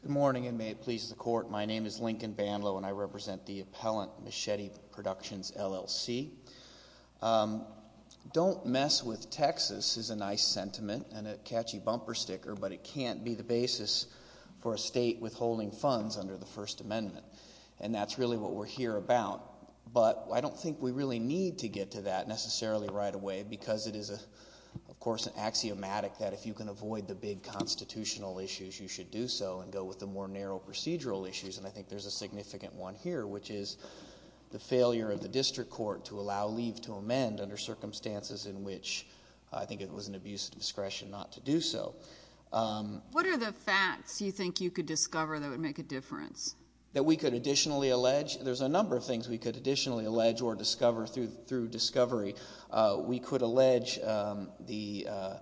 Good morning, and may it please the Court, my name is Lincoln Bandlow, and I represent the Appellant Machete Productions, L.L.C. Don't mess with Texas is a nice sentiment and a catchy bumper sticker, but it can't be the basis for a state withholding funds under the First Amendment, and that's really what we're here about. But I don't think we really need to get to that necessarily right away, because it is a, of course, an axiomatic that if you can avoid the big constitutional issues, you should do so and go with the more narrow procedural issues, and I think there's a significant one here, which is the failure of the district court to allow leave to amend under circumstances in which I think it was an abuse of discretion not to do so. What are the facts you think you could discover that would make a difference? That we could additionally allege, there's a number of things we could additionally allege or discover through discovery. We could allege the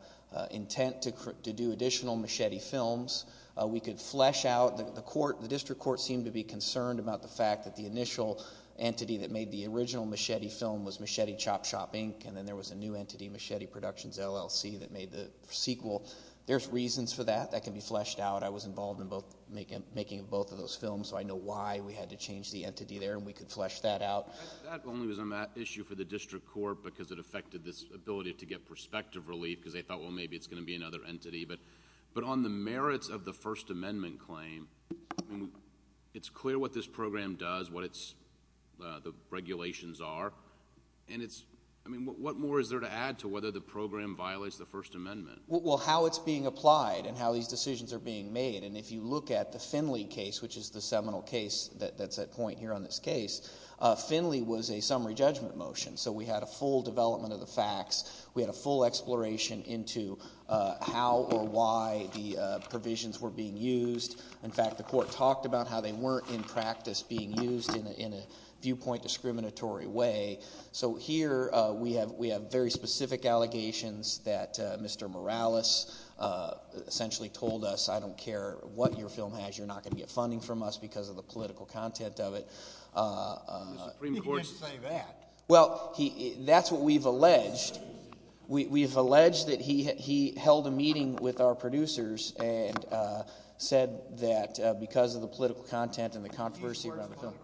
intent to do additional machete films. We could flesh out, the district court seemed to be concerned about the fact that the initial entity that made the original machete film was Machete Chop Shop, Inc., and then there was a new entity, Machete Productions, L.L.C., that made the sequel. There's reasons for that. That can be fleshed out. I was involved in making both of those films, so I know why we had to change the entity there, and we could flesh that out. That only was an issue for the district court because it affected this ability to get perspective relief because they thought, well, maybe it's going to be another entity. On the merits of the First Amendment claim, it's clear what this program does, what the regulations are, and what more is there to add to whether the program violates the First Amendment? Well, how it's being applied and how these decisions are being made, and if you look at the Finley case, which is the seminal case that's at point here on this case, Finley was a summary judgment motion, so we had a full development of the facts. We had a full exploration into how or why the provisions were being used. In fact, the court talked about how they weren't in practice being used in a viewpoint discriminatory way. So here, we have very specific allegations that Mr. Morales essentially told us, I don't care what your film has, you're not going to get funding from us because of the political content of it. The Supreme Court didn't say that. Well, that's what we've alleged. We've alleged that he held a meeting with our producers and said that because of the political content and the controversy around the film.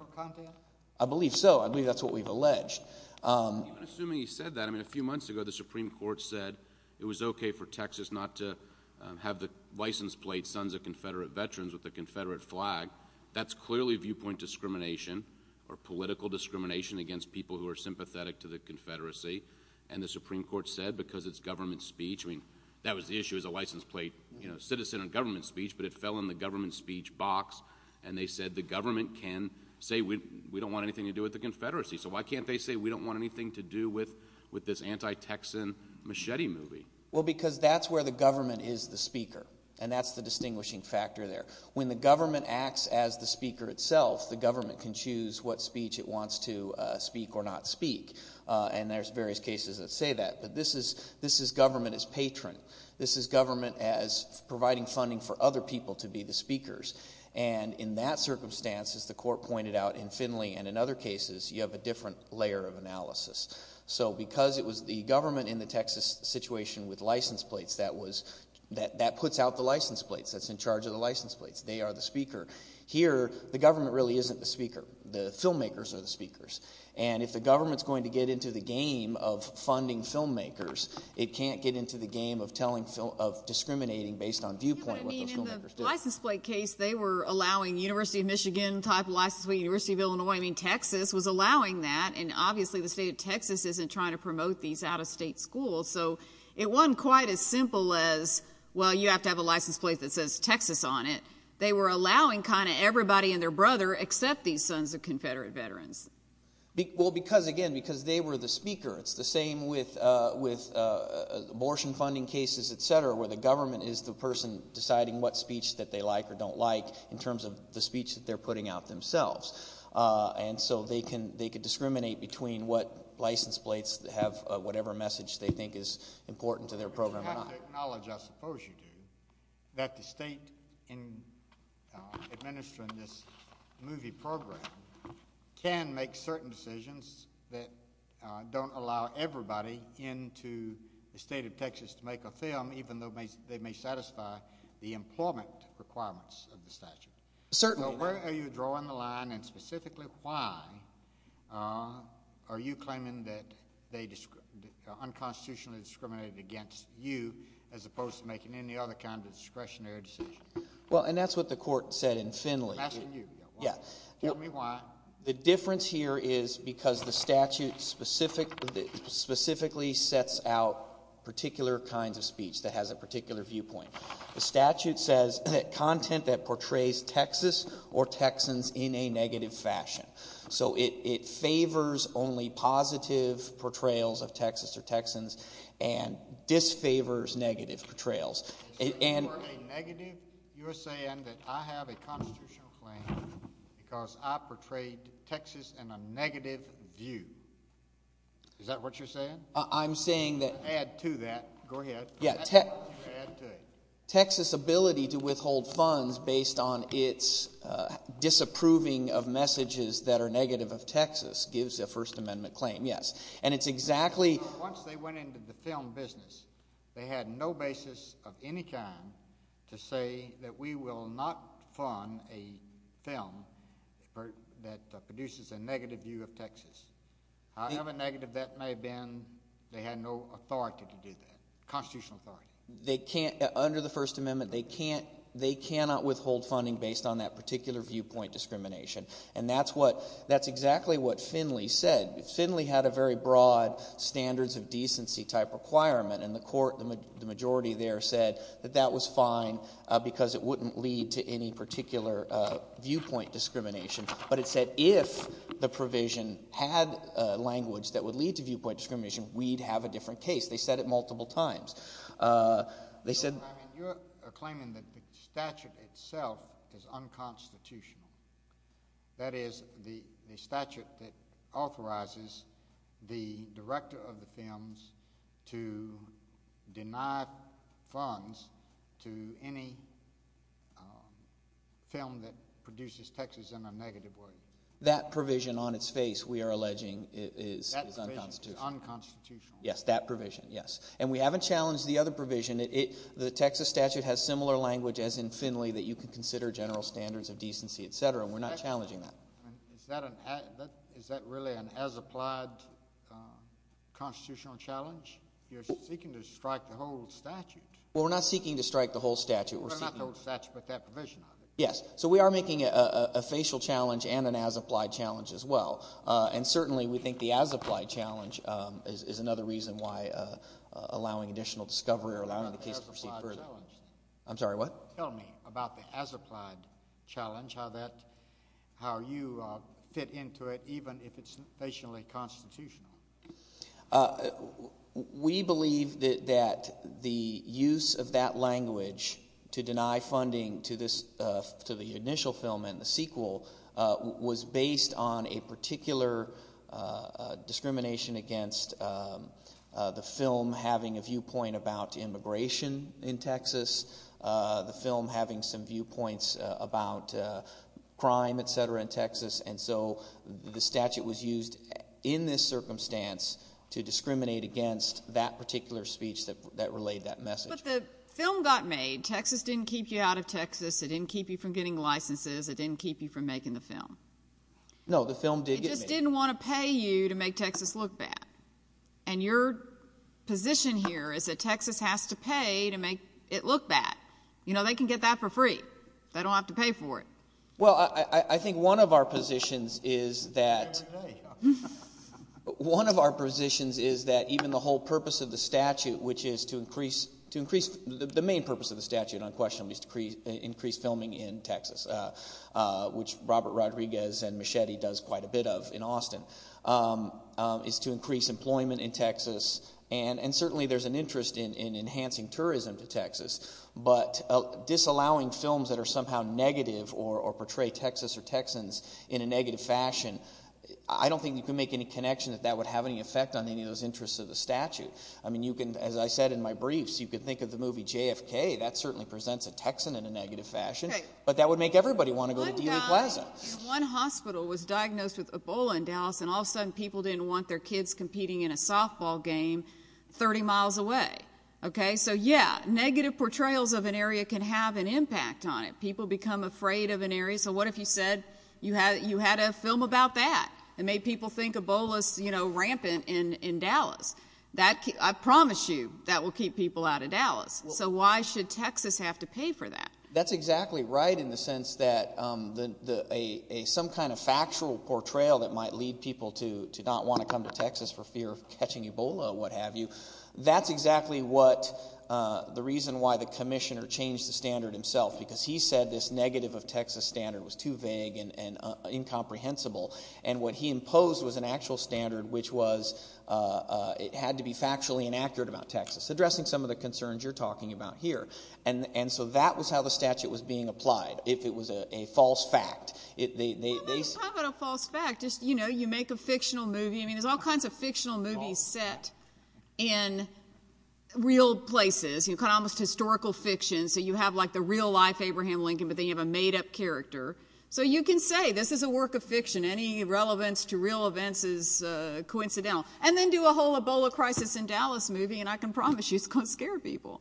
I believe so. I believe that's what we've alleged. Even assuming he said that, I mean, a few months ago, the Supreme Court said it was okay for Texas not to have the license plate, Sons of Confederate Veterans, with the Confederate flag. That's clearly viewpoint discrimination or political discrimination against people who are sympathetic to the Confederacy. And the Supreme Court said because it's government speech, I mean, that was the issue as a license plate, you know, citizen and government speech, but it fell in the government speech box. And they said the government can say we don't want anything to do with the Confederacy. So why can't they say we don't want anything to do with this anti-Texan machete movie? Well, because that's where the government is the speaker. And that's the distinguishing factor there. When the government acts as the speaker itself, the government can choose what speech it wants to speak or not speak. And there's various cases that say that, but this is government as patron. This is government as providing funding for other people to be the speakers. And in that circumstance, as the court pointed out in Finley and in other cases, you have a different layer of analysis. So because it was the government in the Texas situation with license plates that puts out the license plates, that's in charge of the license plates, they are the speaker. Here, the government really isn't the speaker. The filmmakers are the speakers. And if the government's going to get into the game of funding filmmakers, it can't get into the game of telling, of discriminating based on viewpoint what those filmmakers do. But I mean, in the license plate case, they were allowing University of Michigan type of license plate, University of Illinois, I mean, Texas was allowing that. And obviously the state of Texas isn't trying to promote these out-of-state schools. So it wasn't quite as simple as, well, you have to have a license plate that says Texas on it. They were allowing kind of everybody and their brother, except these sons of Confederate veterans. Well, because again, because they were the speaker. It's the same with abortion funding cases, et cetera, where the government is the person deciding what speech that they like or don't like in terms of the speech that they're putting out themselves. And so they can discriminate between what license plates have whatever message they think is important to their program or not. I want to acknowledge, I suppose you do, that the state administering this movie program can make certain decisions that don't allow everybody into the state of Texas to make a film, even though they may satisfy the employment requirements of the statute. Certainly. So where are you drawing the line and specifically why are you claiming that they unconstitutionally discriminated against you as opposed to making any other kind of discretionary decision? Well, and that's what the court said in Finley. I'm asking you. Yeah. Tell me why. The difference here is because the statute specifically sets out particular kinds of speech that has a particular viewpoint. The statute says that content that portrays Texas or Texans in a negative fashion. So it favors only positive portrayals of Texas or Texans and disfavors negative portrayals. You're saying that I have a constitutional claim because I portrayed Texas in a negative view. Is that what you're saying? I'm saying that. Add to that. Go ahead. Yeah. Texas' ability to withhold funds based on its disapproving of messages that are negative of Texas gives a First Amendment claim, yes. And it's exactly. Once they went into the film business, they had no basis of any kind to say that we will not fund a film that produces a negative view of Texas. However negative that may have been, they had no authority to do that, constitutional authority. Under the First Amendment, they cannot withhold funding based on that particular viewpoint discrimination. And that's exactly what Finley said. Finley had a very broad standards of decency type requirement and the court, the majority there said that that was fine because it wouldn't lead to any particular viewpoint discrimination. But it said if the provision had language that would lead to viewpoint discrimination, we'd have a different case. They said it multiple times. They said. You're claiming that the statute itself is unconstitutional. That is the statute that authorizes the director of the films to deny funds to any film that produces Texas in a negative way. That provision on its face, we are alleging is unconstitutional. Unconstitutional. Yes, that provision. Yes. And we haven't challenged the other provision. The Texas statute has similar language as in Finley that you can consider general standards of decency, etc. We're not challenging that. Is that really an as-applied constitutional challenge? You're seeking to strike the whole statute. Well, we're not seeking to strike the whole statute. We're seeking. Well, not the whole statute, but that provision. Yes. So we are making a facial challenge and an as-applied challenge as well. And certainly we think the as-applied challenge is another reason why allowing additional discovery or allowing the case to proceed further. Tell me about the as-applied challenge. I'm sorry, what? Tell me about the as-applied challenge, how you fit into it even if it's facially constitutional. We believe that the use of that language to deny funding to the initial film and the sequel was based on a particular discrimination against the film having a viewpoint about immigration in Texas, the film having some viewpoints about crime, etc., in Texas. And so the statute was used in this circumstance to discriminate against that particular speech that relayed that message. But the film got made. Texas didn't keep you out of Texas. It didn't keep you from getting licenses. It didn't keep you from making the film. No, the film did get made. It just didn't want to pay you to make Texas look bad. And your position here is that Texas has to pay to make it look bad. You know, they can get that for free. They don't have to pay for it. Well, I think one of our positions is that even the whole purpose of the statute, which is to increase, the main purpose of the statute on question is to increase filming in Texas, which Robert Rodriguez and Machete does quite a bit of in Austin, is to increase employment in Texas. And certainly there's an interest in enhancing tourism to Texas. But disallowing films that are somehow negative or portray Texas or Texans in a negative fashion, I don't think you can make any connection that that would have any effect on any of those interests of the statute. I mean, you can, as I said in my briefs, you can think of the movie JFK. That certainly presents a Texan in a negative fashion. But that would make everybody want to go to Dela Plaza. One hospital was diagnosed with Ebola in Dallas, and all of a sudden people didn't want their kids competing in a softball game 30 miles away. Okay, so yeah, negative portrayals of an area can have an impact on it. People become afraid of an area. So what if you said you had a film about that and made people think Ebola's, you know, rampant in Dallas? I promise you that will keep people out of Dallas. So why should Texas have to pay for that? That's exactly right in the sense that some kind of factual portrayal that might lead people to not want to come to Texas for fear of catching Ebola or what have you, that's exactly what the reason why the commissioner changed the standard himself. Because he said this negative of Texas standard was too vague and incomprehensible. And what he imposed was an actual standard which was, it had to be factually inaccurate about Texas. Addressing some of the concerns you're talking about here. And so that was how the statute was being applied. If it was a false fact, it, they, they, they, Well, I'm not talking about a false fact, it's, you know, you make a fictional movie, I mean, there's all kinds of fictional movies set in real places, you know, kind of almost historical fiction. So you have like the real life Abraham Lincoln, but then you have a made up character. So you can say this is a work of fiction, any relevance to real events is coincidental. And then do a whole Ebola crisis in Dallas movie and I can promise you it's going to scare people.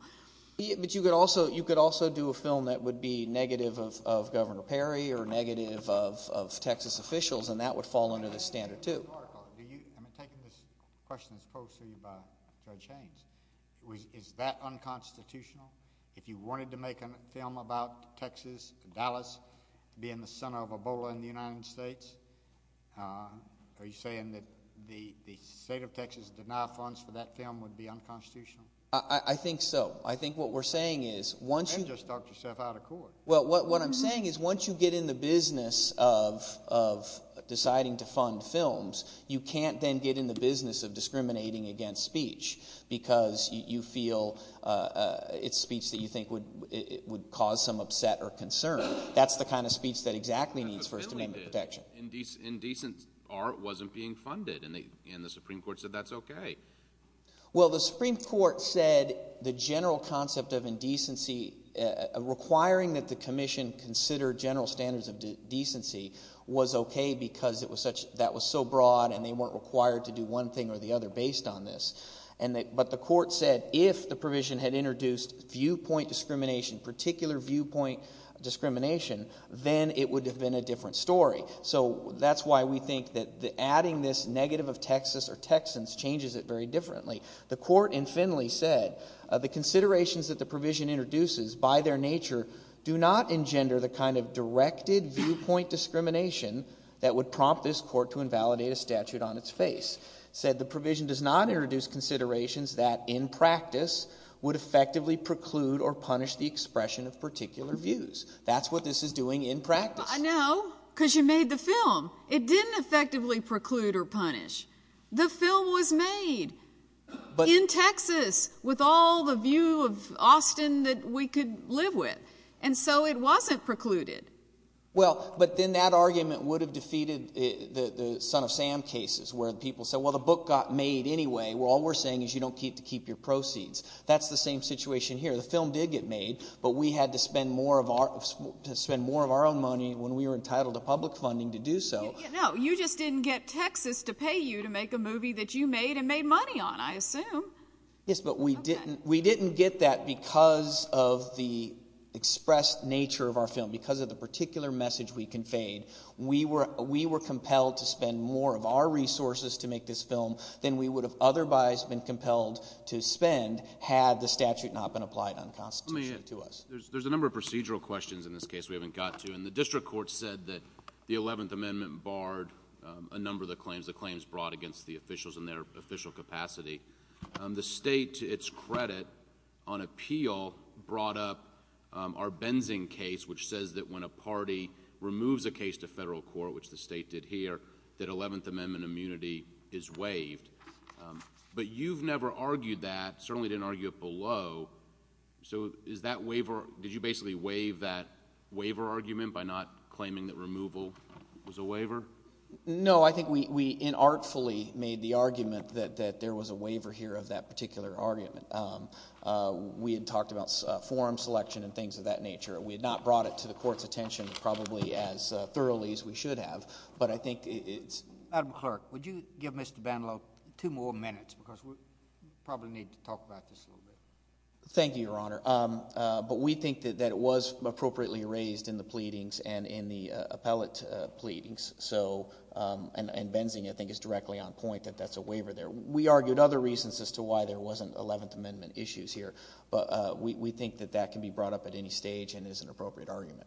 But you could also, you could also do a film that would be negative of, of Governor Perry or negative of, of Texas officials and that would fall under the standard too. I'm taking this question as posed to me by Judge Haynes. Is that unconstitutional? If you wanted to make a film about Texas, Dallas being the center of Ebola in the United States, are you saying that the, the state of Texas did not funds for that film would be unconstitutional? I think so. I think what we're saying is once you just talked yourself out of court, well, what, what I'm saying is once you get in the business of, of deciding to fund films, you can't then get in the business of discriminating against speech because you feel, uh, uh, it's speech that you think would, it would cause some upset or concern. That's the kind of speech that exactly needs First Amendment protection. Indecent art wasn't being funded and the, and the Supreme Court said that's okay. Well the Supreme Court said the general concept of indecency, uh, requiring that the commission consider general standards of decency was okay because it was such, that was so broad and they weren't required to do one thing or the other based on this. And they, but the court said if the provision had introduced viewpoint discrimination, particular viewpoint discrimination, then it would have been a different story. So that's why we think that the adding this negative of Texas or Texans changes it very differently. The court in Finley said, uh, the considerations that the provision introduces by their nature do not engender the kind of directed viewpoint discrimination that would prompt this court to invalidate a statute on its face. Said the provision does not introduce considerations that in practice would effectively preclude or punish the expression of particular views. That's what this is doing in practice. I know. Cause you made the film. It didn't effectively preclude or punish. The film was made in Texas with all the view of Austin that we could live with. And so it wasn't precluded. Well, but then that argument would have defeated the son of Sam cases where the people said, well, the book got made anyway, where all we're saying is you don't keep to keep your proceeds. That's the same situation here. The film did get made, but we had to spend more of our, spend more of our own money when we were entitled to public funding to do so. No, you just didn't get Texas to pay you to make a movie that you made and made money on, I assume. Yes, but we didn't, we didn't get that because of the expressed nature of our film because of the particular message we conveyed. We were, we were compelled to spend more of our resources to make this film than we would have otherwise been compelled to spend had the statute not been applied unconstitutionally to us. There's a number of procedural questions in this case we haven't got to, and the district court said that the 11th amendment barred a number of the claims, the claims brought against the officials in their official capacity. The state, to its credit, on appeal, brought up our Benzing case, which says that when a party removes a case to federal court, which the state did here, that 11th amendment immunity is waived. But you've never argued that, certainly didn't argue it below, so is that waiver, did you basically waive that waiver argument by not claiming that removal was a waiver? No, I think we inartfully made the argument that there was a waiver here of that particular argument. We had talked about forum selection and things of that nature. We had not brought it to the court's attention probably as thoroughly as we should have, but I think it's... Madam Clerk, would you give Mr. Bandelow two more minutes because we probably need to talk about this a little bit. Thank you, Your Honor. But we think that it was appropriately raised in the pleadings and in the appellate pleadings, so... and Benzing, I think, is directly on point that that's a waiver there. We argued other reasons as to why there wasn't 11th amendment issues here, but we think that that can be brought up at any stage and is an appropriate argument.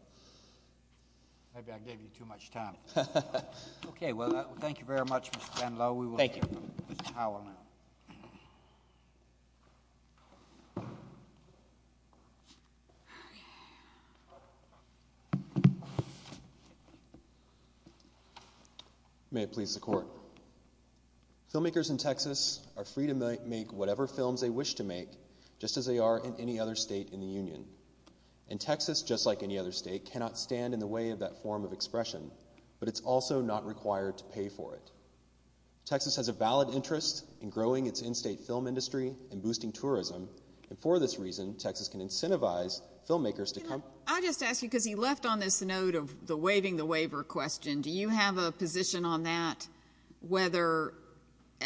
Maybe I gave you too much time. Okay, well, thank you very much, Mr. Bandelow. Thank you. We will hear from Mr. Howell now. May it please the Court. Filmmakers in Texas are free to make whatever films they wish to make just as they are in any other state in the Union. And Texas, just like any other state, cannot stand in the way of that form of expression, but it's also not required to pay for it. Texas has a valid interest in growing its in-state film industry and boosting tourism, and for this reason, Texas can incentivize filmmakers to come... I do have a position on that, whether...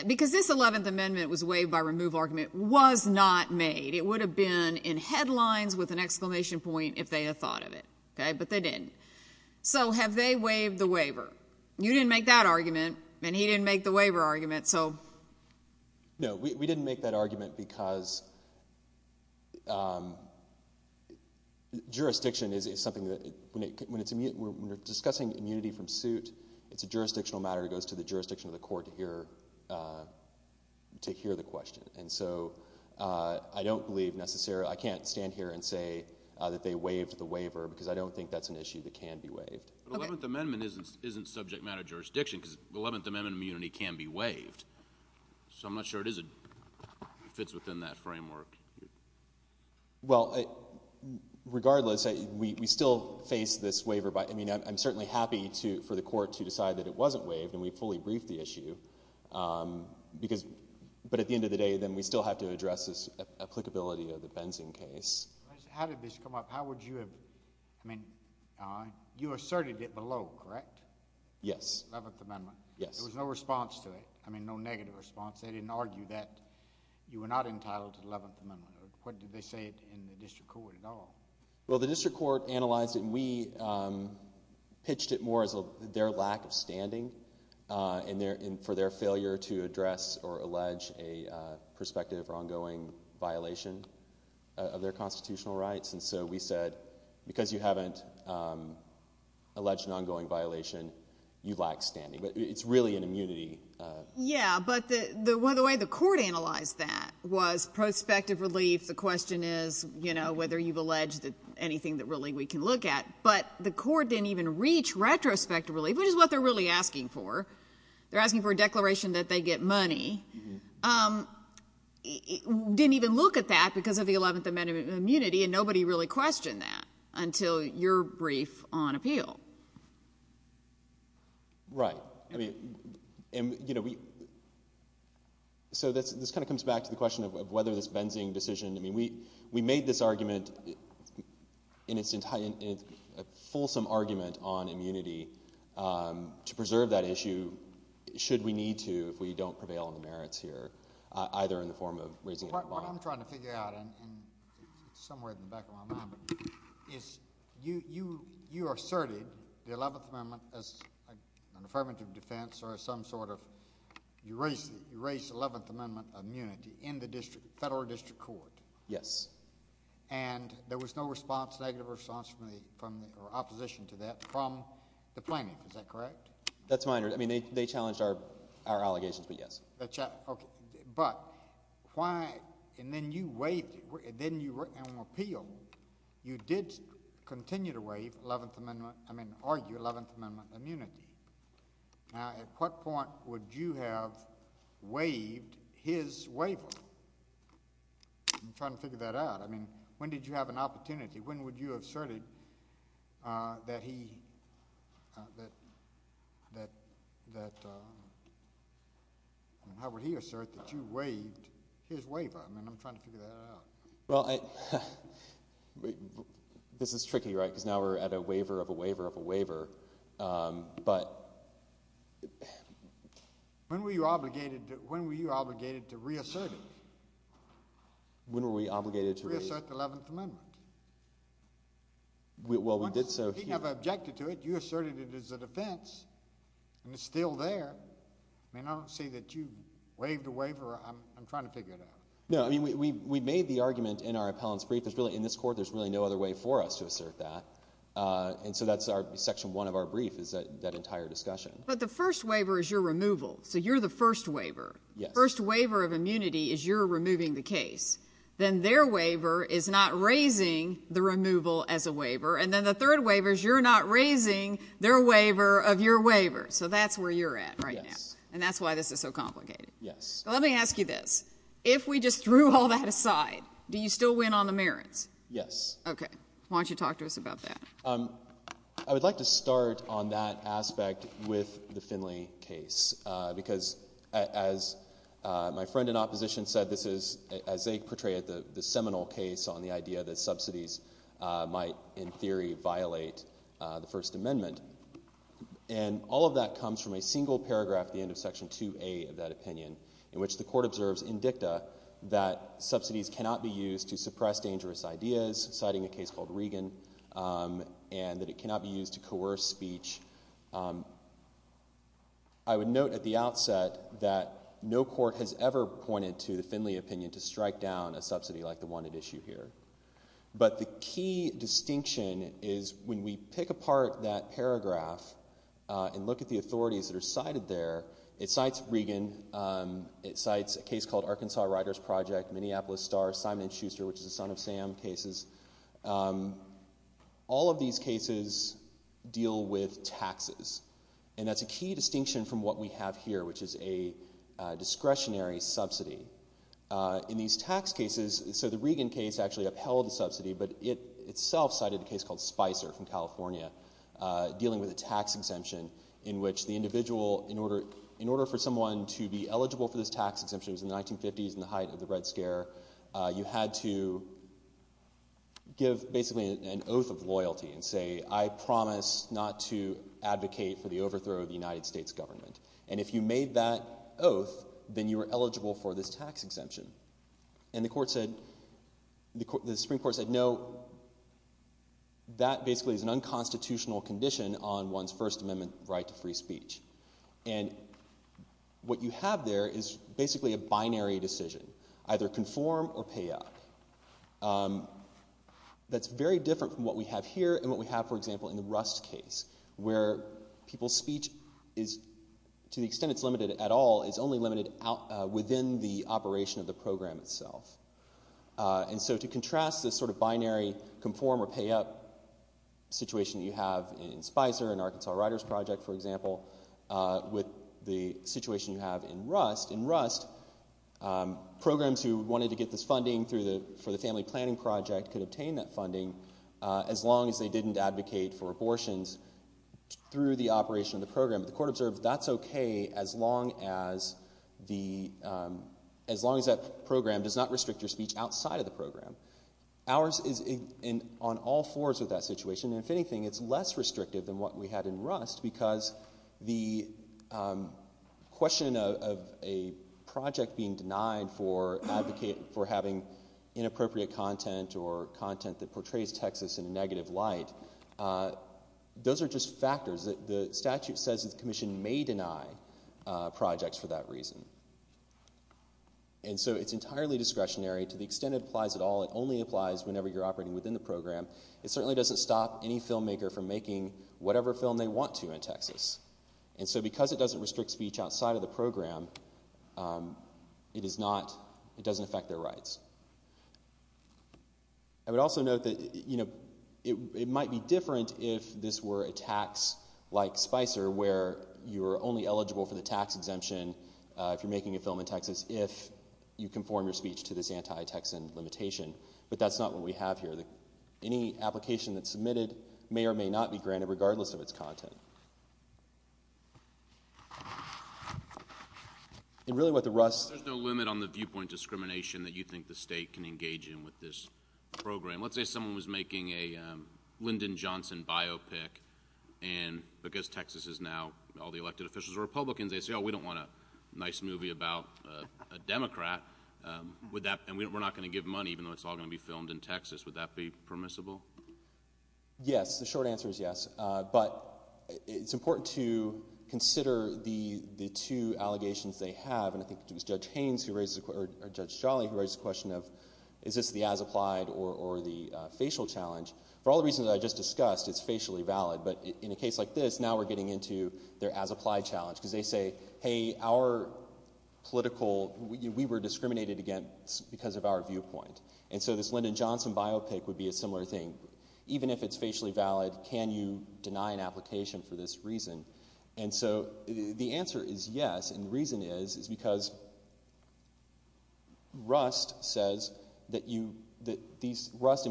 Because this 11th amendment was waived by removal argument was not made. It would have been in headlines with an exclamation point if they had thought of it, but they didn't. So have they waived the waiver? You didn't make that argument, and he didn't make the waiver argument, so... No, we didn't make that argument because... When we're discussing immunity from suit, it's a jurisdictional matter that goes to the jurisdiction of the court to hear the question. And so, I don't believe necessarily... I can't stand here and say that they waived the waiver, because I don't think that's an issue that can be waived. The 11th amendment isn't subject matter jurisdiction, because the 11th amendment immunity can be waived. So I'm not sure it fits within that framework. Well, regardless, we still face this waiver by... I mean, I'm certainly happy for the court to decide that it wasn't waived, and we fully briefed the issue. Because... But at the end of the day, then we still have to address this applicability of the Benzing case. How did this come up? How would you have... I mean, you asserted it below, correct? Yes. The 11th amendment. Yes. There was no response to it. I mean, no negative response. They didn't argue that you were not entitled to the 11th amendment. What did they say in the district court at all? Well, the district court analyzed it, and we pitched it more as their lack of standing, and for their failure to address or allege a prospective or ongoing violation of their constitutional rights. And so, we said, because you haven't alleged an ongoing violation, But it's really an immunity... Yeah, but the way the court analyzed that was prospective relief. The question is, you know, whether you've alleged anything that really we can look at. But the court didn't even reach retrospectively, which is what they're really asking for. They're asking for a declaration that they get money. Didn't even look at that because of the 11th amendment immunity, and nobody really questioned that until your brief on appeal. Right. So, this kind of comes back to the question of whether this Benzing decision... I mean, we made this argument in its fulsome argument on immunity to preserve that issue, should we need to, if we don't prevail on the merits here, either in the form of raising a bond... What I'm trying to figure out, and it's somewhere in the back of my mind, is you asserted the 11th amendment as an affirmative defense or as some sort of... you raised the 11th amendment immunity in the federal district court. Yes. And there was no response, negative response, or opposition to that from the plaintiff. Is that correct? That's my understanding. They challenged our allegations, but yes. But, why... and then you waived it. Then you were on appeal. You did continue to waive 11th amendment... I mean, argue 11th amendment immunity. Now, at what point would you have waived his waiver? I'm trying to figure that out. I mean, when did you have an opportunity? When would you have asserted that he... How would he assert that you waived his waiver? I mean, I'm trying to figure that out. This is tricky, right? Because now we're at a waiver of a waiver of a waiver, but... When were you obligated to... when were you obligated to reassert it? When were we obligated to... Assert the 11th amendment? Well, we did so... He never objected to it. You asserted it as a defense, and it's still there. I mean, I don't see that you waived a waiver. I'm trying to figure it out. No, I mean, we made the argument in our appellant's brief. In this court, there's really no other way for us to assert that. And so, that's our... section one of our brief is that entire discussion. But, the first waiver is your removal. So, you're the first waiver. The first waiver of immunity is your removing the case. Then, their waiver is not raising the removal as a waiver. And then, the third waiver is you're not raising their waiver of your waiver. So, that's where you're at right now. And that's why this is so complicated. Let me ask you this. If we just threw all that aside, do you still win on the merits? Yes. Okay. Why don't you talk to us about that? I would like to start on that aspect with the Finley case. Because, as my friend in opposition said, this is, as they portrayed it, the seminal case on the idea that subsidies might, in theory, violate the First Amendment. And, all of that comes from a single paragraph at the end of section 2A of that opinion, in which the court observes in dicta that subsidies cannot be used to suppress dangerous ideas, citing a case called Regan, and that it cannot be used to coerce speech. I would note at the outset that no court has ever pointed to the Finley opinion to strike down a subsidy like the one at issue here. But, the key distinction is when we pick apart that paragraph and look at the authorities that are cited there, it cites Regan, it cites a case called Arkansas Writers Project, Minneapolis Star, Simon & Schuster, which is a Son of Sam cases. All of these cases deal with taxes, and that's a key distinction from what we have here, which is a discretionary subsidy. In these tax cases, so the Regan case actually upheld a subsidy, but it itself cited a case called Spicer from California, dealing with a tax exemption in which the individual, in order for someone to be eligible for this tax exemption, it was in the 1950s in the height of the Red Scare, you had to give basically an oath of loyalty and say, I promise not to advocate for the overthrow of the United States government. And if you made that oath, then you were eligible for this tax exemption. And the Supreme Court said, no, that basically is an unconstitutional condition on one's First Amendment right to free speech. And what you have there is basically a binary decision, either conform or pay up. That's very different from what we have here, and what we have, for example, in the Rust case, where people's speech is, to the extent it's limited at all, is only limited within the operation of the program itself. And so to contrast this sort of binary conform or pay up situation that you have in Spicer and Arkansas Writers Project, for example, with the situation you have in Rust, programs who wanted to get this funding for the family planning project could obtain that funding as long as they didn't advocate for abortions through the operation of the program. The court observed that's okay as long as that program does not restrict your speech outside of the program. Ours is on all fours of that situation, and if anything, it's less restrictive than what we had in Rust, because the question of a project being denied for having inappropriate content, or content that portrays Texas in a negative light, those are just factors. The statute says the commission may deny projects for that reason. And so it's entirely discretionary. To the extent it applies at all, it only applies whenever you're operating within the program. It certainly doesn't stop any filmmaker from making whatever film they want to in Texas. And so because it doesn't restrict speech outside of the program, it doesn't affect their rights. I would also note that it might be different if this were a tax like Spicer, where you're only eligible for the tax exemption if you're making a film in Texas, if you conform your speech to this anti-Texan limitation. But that's not what we have here. Any application that's submitted may or may not be granted, regardless of its content. And really what the Rust... There's no limit on the viewpoint discrimination that you think the state can engage in with this program. Let's say someone was making a Lyndon Johnson biopic, and because Texas is now, all the elected officials are Republicans, they say, oh, we don't want a nice movie about a Democrat, and we're not going to give money, even though it's all going to be filmed in Texas. Would that be permissible? Yes. The short answer is yes. But it's important to consider the two allegations they have. And I think it was Judge Haynes, or Judge Jolly, who raised the question of, is this the as-applied or the facial challenge? For all the reasons I just discussed, it's facially valid. But in a case like this, now we're getting into their as-applied challenge. Because they say, hey, our political... We were discriminated against because of our viewpoint. And so this Lyndon Johnson biopic would be a similar thing. Even if it's facially valid, can you deny an application for this reason? And so the answer is yes, and the reason is, is because Rust and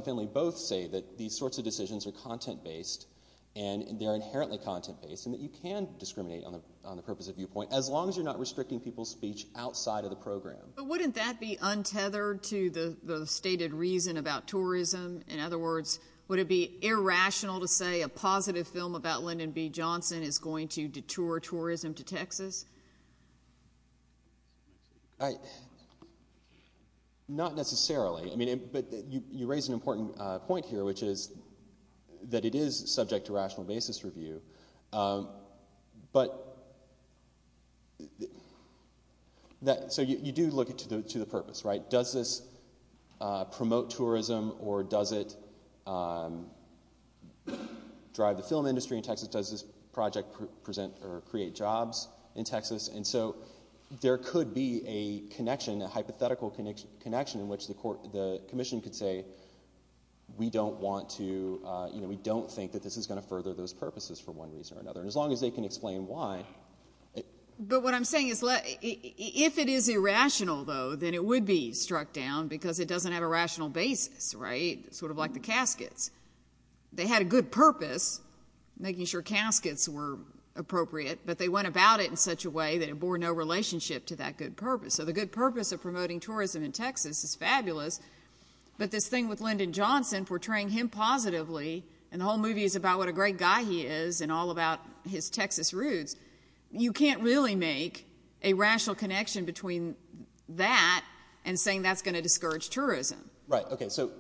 Finley both say that these sorts of decisions are content-based, and they're inherently content-based, and that you can discriminate on the purpose of viewpoint, as long as you're not restricting people's speech outside of the program. But wouldn't that be untethered to the stated reason about tourism? In other words, would it be irrational to say a positive film about Lyndon B. Johnson is going to deter tourism to Texas? I... Not necessarily. But you raise an important point here, which is that it is subject to rational basis review. But... So you do look to the purpose, right? Does this promote tourism, or does it drive the film industry in Texas? Does this project present or create jobs in Texas? And so there could be a connection, a hypothetical connection, in which the commission could say, we don't think that this is going to further those purposes for one reason or another, as long as they can explain why. But what I'm saying is, if it is irrational, though, then it would be struck down, because it doesn't have a rational basis, right? Sort of like the caskets. They had a good purpose, making sure caskets were appropriate, but they went about it in such a way that it bore no relationship to that good purpose. So the good purpose of promoting tourism in Texas is fabulous, but this thing with Lyndon Johnson, portraying him positively, and the whole movie is about what a great guy he is and all about his Texas roots, you can't really make a rational connection between that and saying that's going to discourage tourism. Right. Okay. So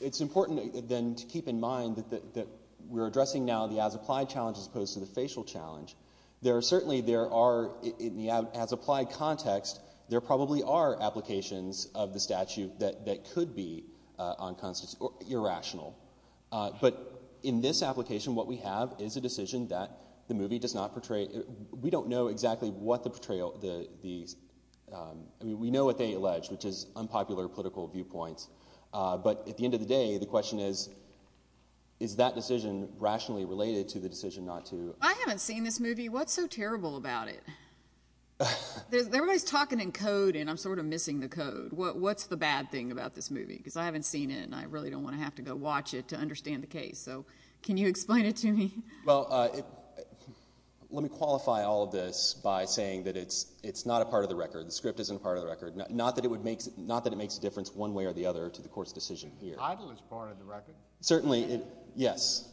it's important, then, to keep in mind that we're addressing now the as-applied challenge as opposed to the facial challenge. Certainly, in the as-applied context, there probably are applications of the statute that could be irrational. But in this application, what we have is a decision that the movie does not portray. We don't know exactly what the portrayal... I mean, we know what they allege, which is unpopular political viewpoints. But at the end of the day, the question is, is that decision rationally related to the decision not to... I haven't seen this movie. What's so terrible about it? Everybody's talking in code, and I'm sort of missing the code. What's the bad thing about this movie? Because I haven't seen it, and I really don't want to have to go watch it to understand the case. So can you explain it to me? Well, let me qualify all of this by saying that it's not a part of the record. The script isn't a part of the record. Not that it makes a difference one way or the other to the court's decision here. The idol is part of the record. Certainly, yes.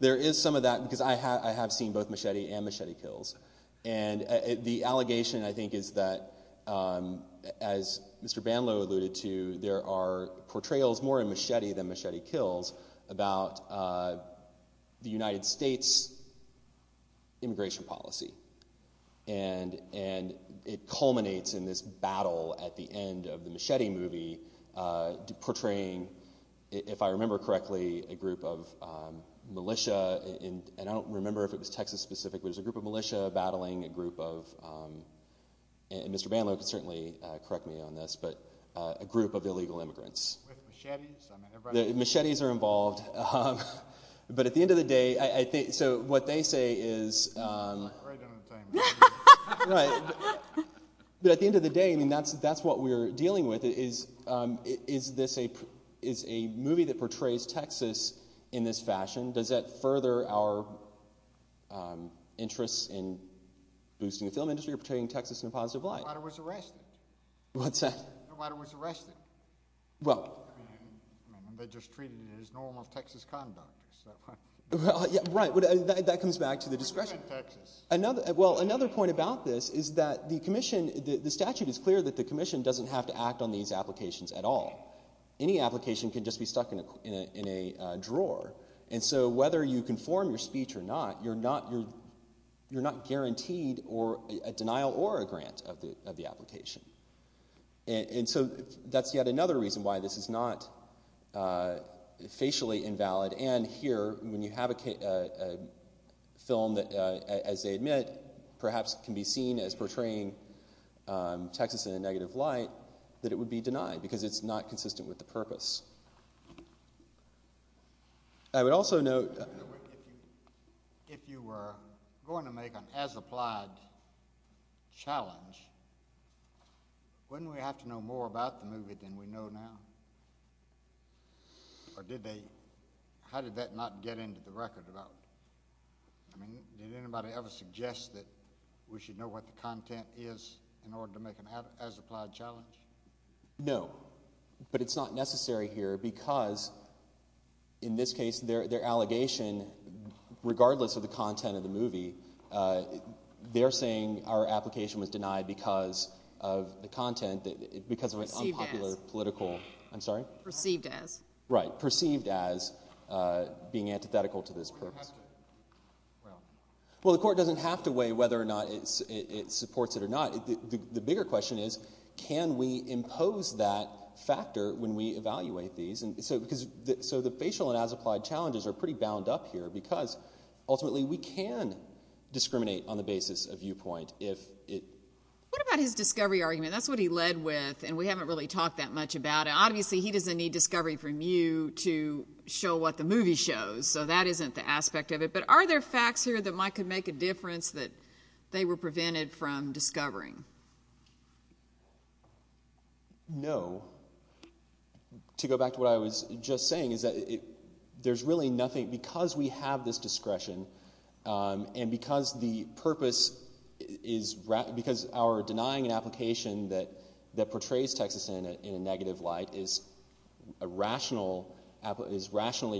There is some of that, because I have seen both Machete and Machete Kills. And the allegation, I think, is that, as Mr. Bandlow alluded to, there are portrayals more in Machete than Machete Kills about the United States' immigration policy. And it culminates in this battle at the end of the Machete movie portraying, if I remember correctly, a group of militia, and I don't remember if it was Texas specific, but there's a group of militia battling a group of, and Mr. Bandlow can certainly correct me on this, but a group of illegal immigrants. Machetes are involved. But at the end of the day, so what they say is... Right. But at the end of the day, that's what we're dealing with. Is a movie that portrays Texas in this fashion, does that further our interest in boosting the film industry or portraying Texas in a positive light? Nobody was arrested. Nobody was arrested. They just treated it as normal Texas conduct. That comes back to the discretion. Another point about this is that the commission, the statute is clear that the commission doesn't have to act on these applications at all. Any application can just be stuck in a drawer. And so whether you conform your speech or not, you're not guaranteed a denial or a grant of the application. And so that's yet another reason why this is not facially invalid. And here, when you have a film that, as they admit, perhaps can be seen as portraying Texas in a negative light, that it would be denied because it's not consistent with the purpose. I would also note... If you were going to make an as-applied challenge, wouldn't we have to know more about the movie than we know now? How did that not get into the record? Did anybody ever suggest that we should know what the content is in order to make an as-applied challenge? No. But it's not necessary here because in this case, their allegation, they're saying our application was denied because of an unpopular political... Perceived as. Perceived as being antithetical to this purpose. Well, the court doesn't have to weigh whether or not it supports it or not. The bigger question is, can we impose that factor when we evaluate these? So the facial and as-applied challenges are pretty bound up here because ultimately we can discriminate on the basis of viewpoint if it... What about his discovery argument? That's what he led with and we haven't really talked that much about it. Obviously he doesn't need discovery from you to show what the movie shows. So that isn't the aspect of it. But are there facts here that might make a difference that they were prevented from discovering? No. To go back to what I was just saying, there's really nothing... Because we have this discretion and because the purpose is... Because our denying an application that portrays Texas in a negative light is rationally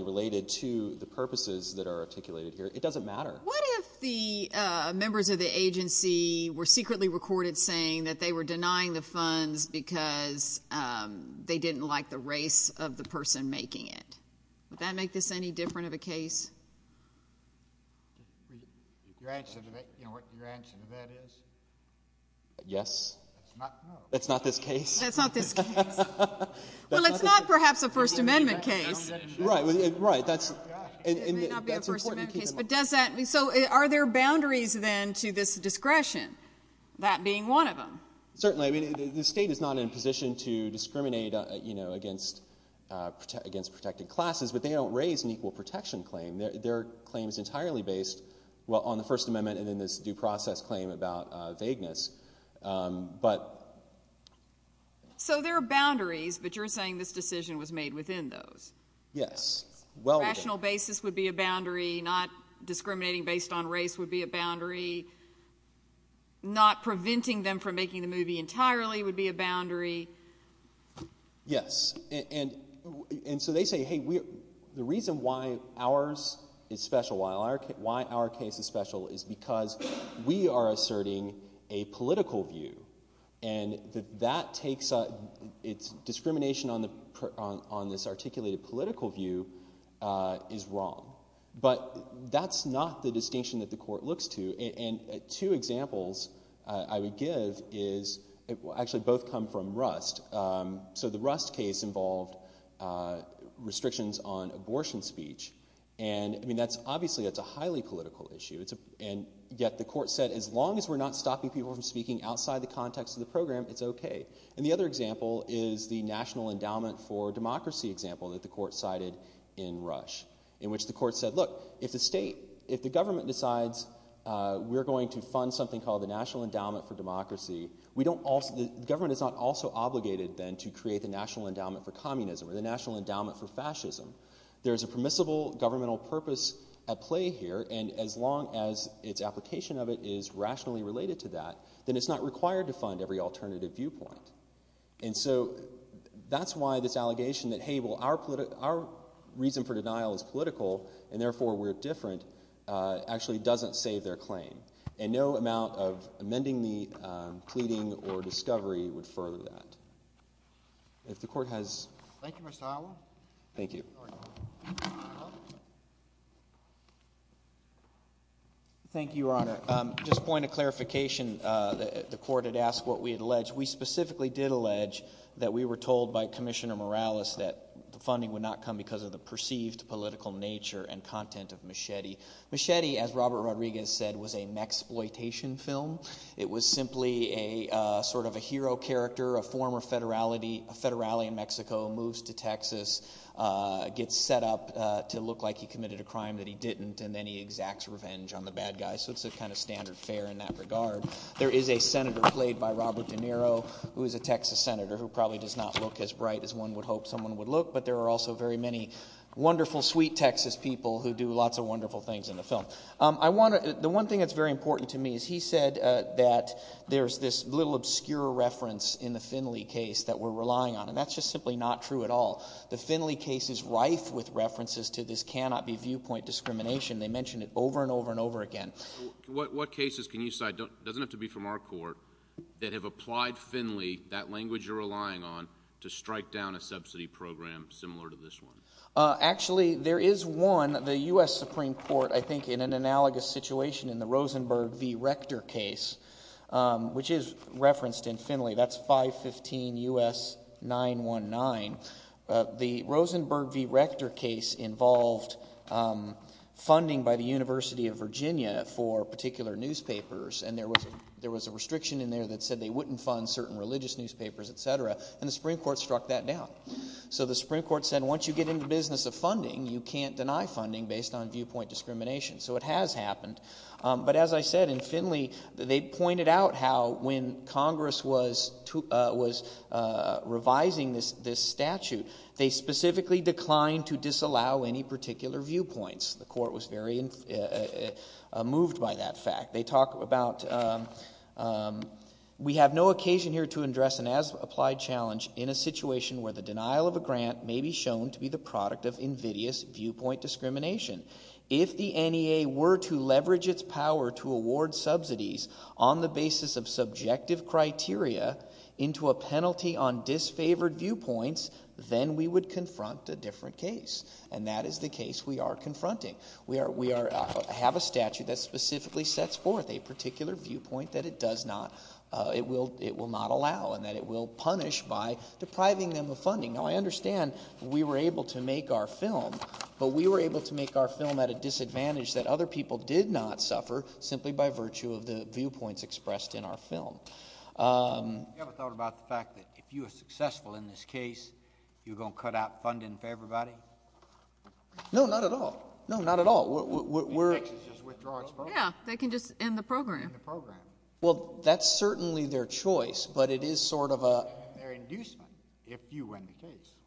related to the purposes that are articulated here, it doesn't matter. What if the members of the agency were secretly recorded saying that they were denying the funds because they didn't like the race of the person making it? Would that make this any different of a case? Your answer to that... You know what your answer to that is? Yes. That's not this case. Well, it's not perhaps a First Amendment case. It may not be a First Amendment case. So are there boundaries then to this discretion? That being one of them. Certainly. The state is not in a position to discriminate against protected classes, but they don't raise an equal protection claim. Their claim is entirely based on the First Amendment and then this due process claim about vagueness. So there are boundaries, but you're saying this decision was made within those. Yes. Rational basis would be a boundary. Not discriminating based on race would be a boundary. Not preventing them from making the movie entirely would be a boundary. Yes. And so they say, hey, the reason why ours is special, why our case is special, is because we are asserting a political view. And discrimination on this articulated political view is wrong. But that's not the distinction that the court looks to. Two examples I would give actually both come from Rust. So the Rust case involved restrictions on abortion speech. Obviously that's a highly political issue. And yet the court said as long as we're not stopping people from speaking outside the context of the program, it's okay. And the other example is the National Endowment for Democracy example that the court cited in Rust. In which the court said look, if the government decides we're going to fund something called the National Endowment for Democracy, the government is not also obligated then to create the National Endowment for Communism or the National Endowment for Fascism. There's a permissible governmental purpose at play here and as long as its application of it is rationally related to that, then it's not required to fund every alternative viewpoint. And so that's why this allegation that our reason for denial is political and therefore we're different actually doesn't save their claim. And no amount of amending the pleading or discovery would further that. If the court has... Thank you. Thank you, Your Honor. Just a point of clarification. The court had asked what we had alleged. We specifically did allege that we were told by Commissioner Morales that the funding would not come because of the perceived political nature and content of Machete. Machete, as Robert Rodriguez said, was a maxploitation film. It was simply a sort of a hero character, a former federally in Mexico, moves to Texas, gets set up to look like he committed a crime that he didn't and then he exacts revenge on the bad guy. So it's a kind of standard fare in that regard. There is a senator played by Robert De Niro who is a Texas senator who probably does not look as bright as one would hope someone would look but there are also very many wonderful, sweet Texas people who do lots of wonderful things in the film. The one thing that's very important to me is he said that there's this little obscure reference in the Finley case that we're relying on and that's just simply not true at all. The Finley case is rife with references to this cannot-be viewpoint discrimination. They mention it over and over and over again. What cases can you cite, doesn't have to be from our court, that have applied Finley, that language you're relying on, to strike down a subsidy program similar to this one? Actually, there is one. The U.S. Supreme Court, I think in an analogous situation in the Rosenberg v. Rector case, which is referenced in Finley, that's 515 U.S. 919, the Rosenberg v. Rector case involved funding by the University of Virginia for particular newspapers and there was a restriction in there that said they wouldn't fund certain religious newspapers, etc., and the Supreme Court struck that down. So the Supreme Court said once you get in the business of funding, you can't deny funding based on viewpoint discrimination. So it has happened. But as I said, in Finley, they pointed out how when Congress was revising this statute, they specifically declined to disallow any particular viewpoints. The court was very moved by that fact. They talk about we have no occasion here to address an as-applied challenge in a situation where the denial of a grant may be shown to be the product of invidious viewpoint discrimination. If the NEA were to leverage its power to award subsidies on the basis of subjective criteria into a penalty on disfavored viewpoints, then we would confront a different case. And that is the case we are confronting. We have a statute that specifically sets forth a particular viewpoint that it will not allow and that it will punish by depriving them of funding. Now I understand we were able to make our film, but we were able to make our film at a disadvantage that other people did not suffer simply by virtue of the viewpoints expressed in our film. Have you ever thought about the fact that if you were successful in this case, you were going to cut out funding for everybody? No, not at all. Yeah, they can just end the program. Well, that's certainly their choice, but it is sort of a...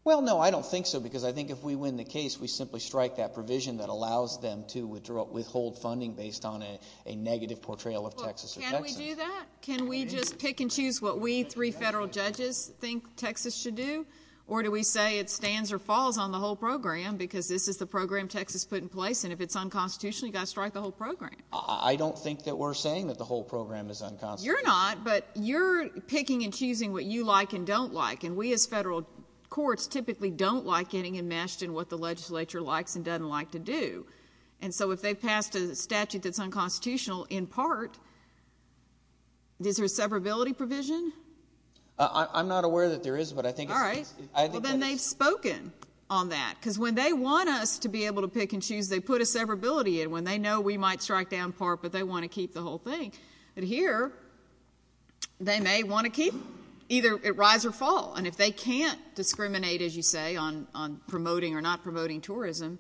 Well, no, I don't think so, because I think if we win the case, we simply strike that provision that allows them to withhold funding based on a negative portrayal of Texas. Can we do that? Can we just pick and choose what we three federal judges think Texas should do? Or do we say it stands or falls on the whole program because this is the program Texas put in place and if it's unconstitutional, you've got to strike the whole program? I don't think that we're saying that the whole program is unconstitutional. You're not, but you're picking and choosing what you like and don't like, and we as federal courts typically don't like getting enmeshed in what the legislature likes and doesn't like to do. And so if they pass a statute that's unconstitutional, in part, is there a severability provision? I'm not aware that there is, but I think... All right, well, then they've spoken on that, because when they want us to be able to pick and choose, they put a severability in when they know we might strike down part, but they want to keep the whole thing. But here, they may want to keep either it rise or fall. And if they can't discriminate, as you say, on promoting or not promoting tourism,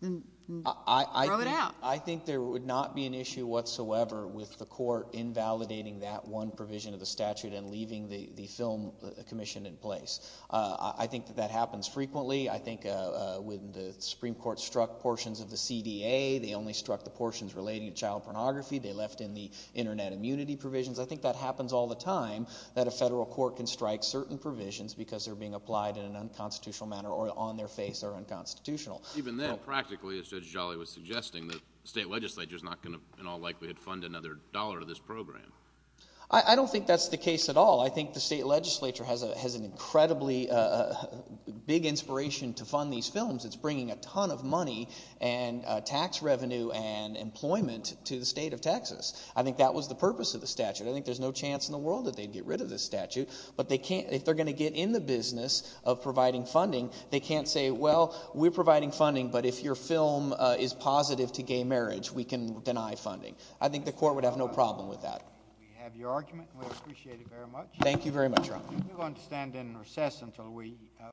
then throw it out. I think there would not be an issue whatsoever with the court invalidating that one provision of the statute and leaving the film commission in place. I think that happens frequently. I think when the Supreme Court struck portions of the CDA, they only struck the portions relating to child pornography. They left in the Internet immunity provisions. I think that happens all the time, that a federal court can strike certain provisions because they're being applied in an unconstitutional manner or on their face are unconstitutional. Even then, practically, as Judge Jolly was suggesting, the state legislature's not going to, in all likelihood, fund another dollar to this program. I don't think that's the case at all. I think the state legislature has an incredibly big inspiration to fund these films. It's bringing a ton of money and tax revenue and employment to the state of Texas. I think that was the purpose of the statute. I think there's no chance in the world that they'd get rid of this statute. But if they're going to get in the business of providing funding, they can't say, well, we're providing funding, but if your film is positive to gay marriage, we can deny funding. I think the court would have no problem with that. We have your argument. We appreciate it very much. Thank you very much, Ron.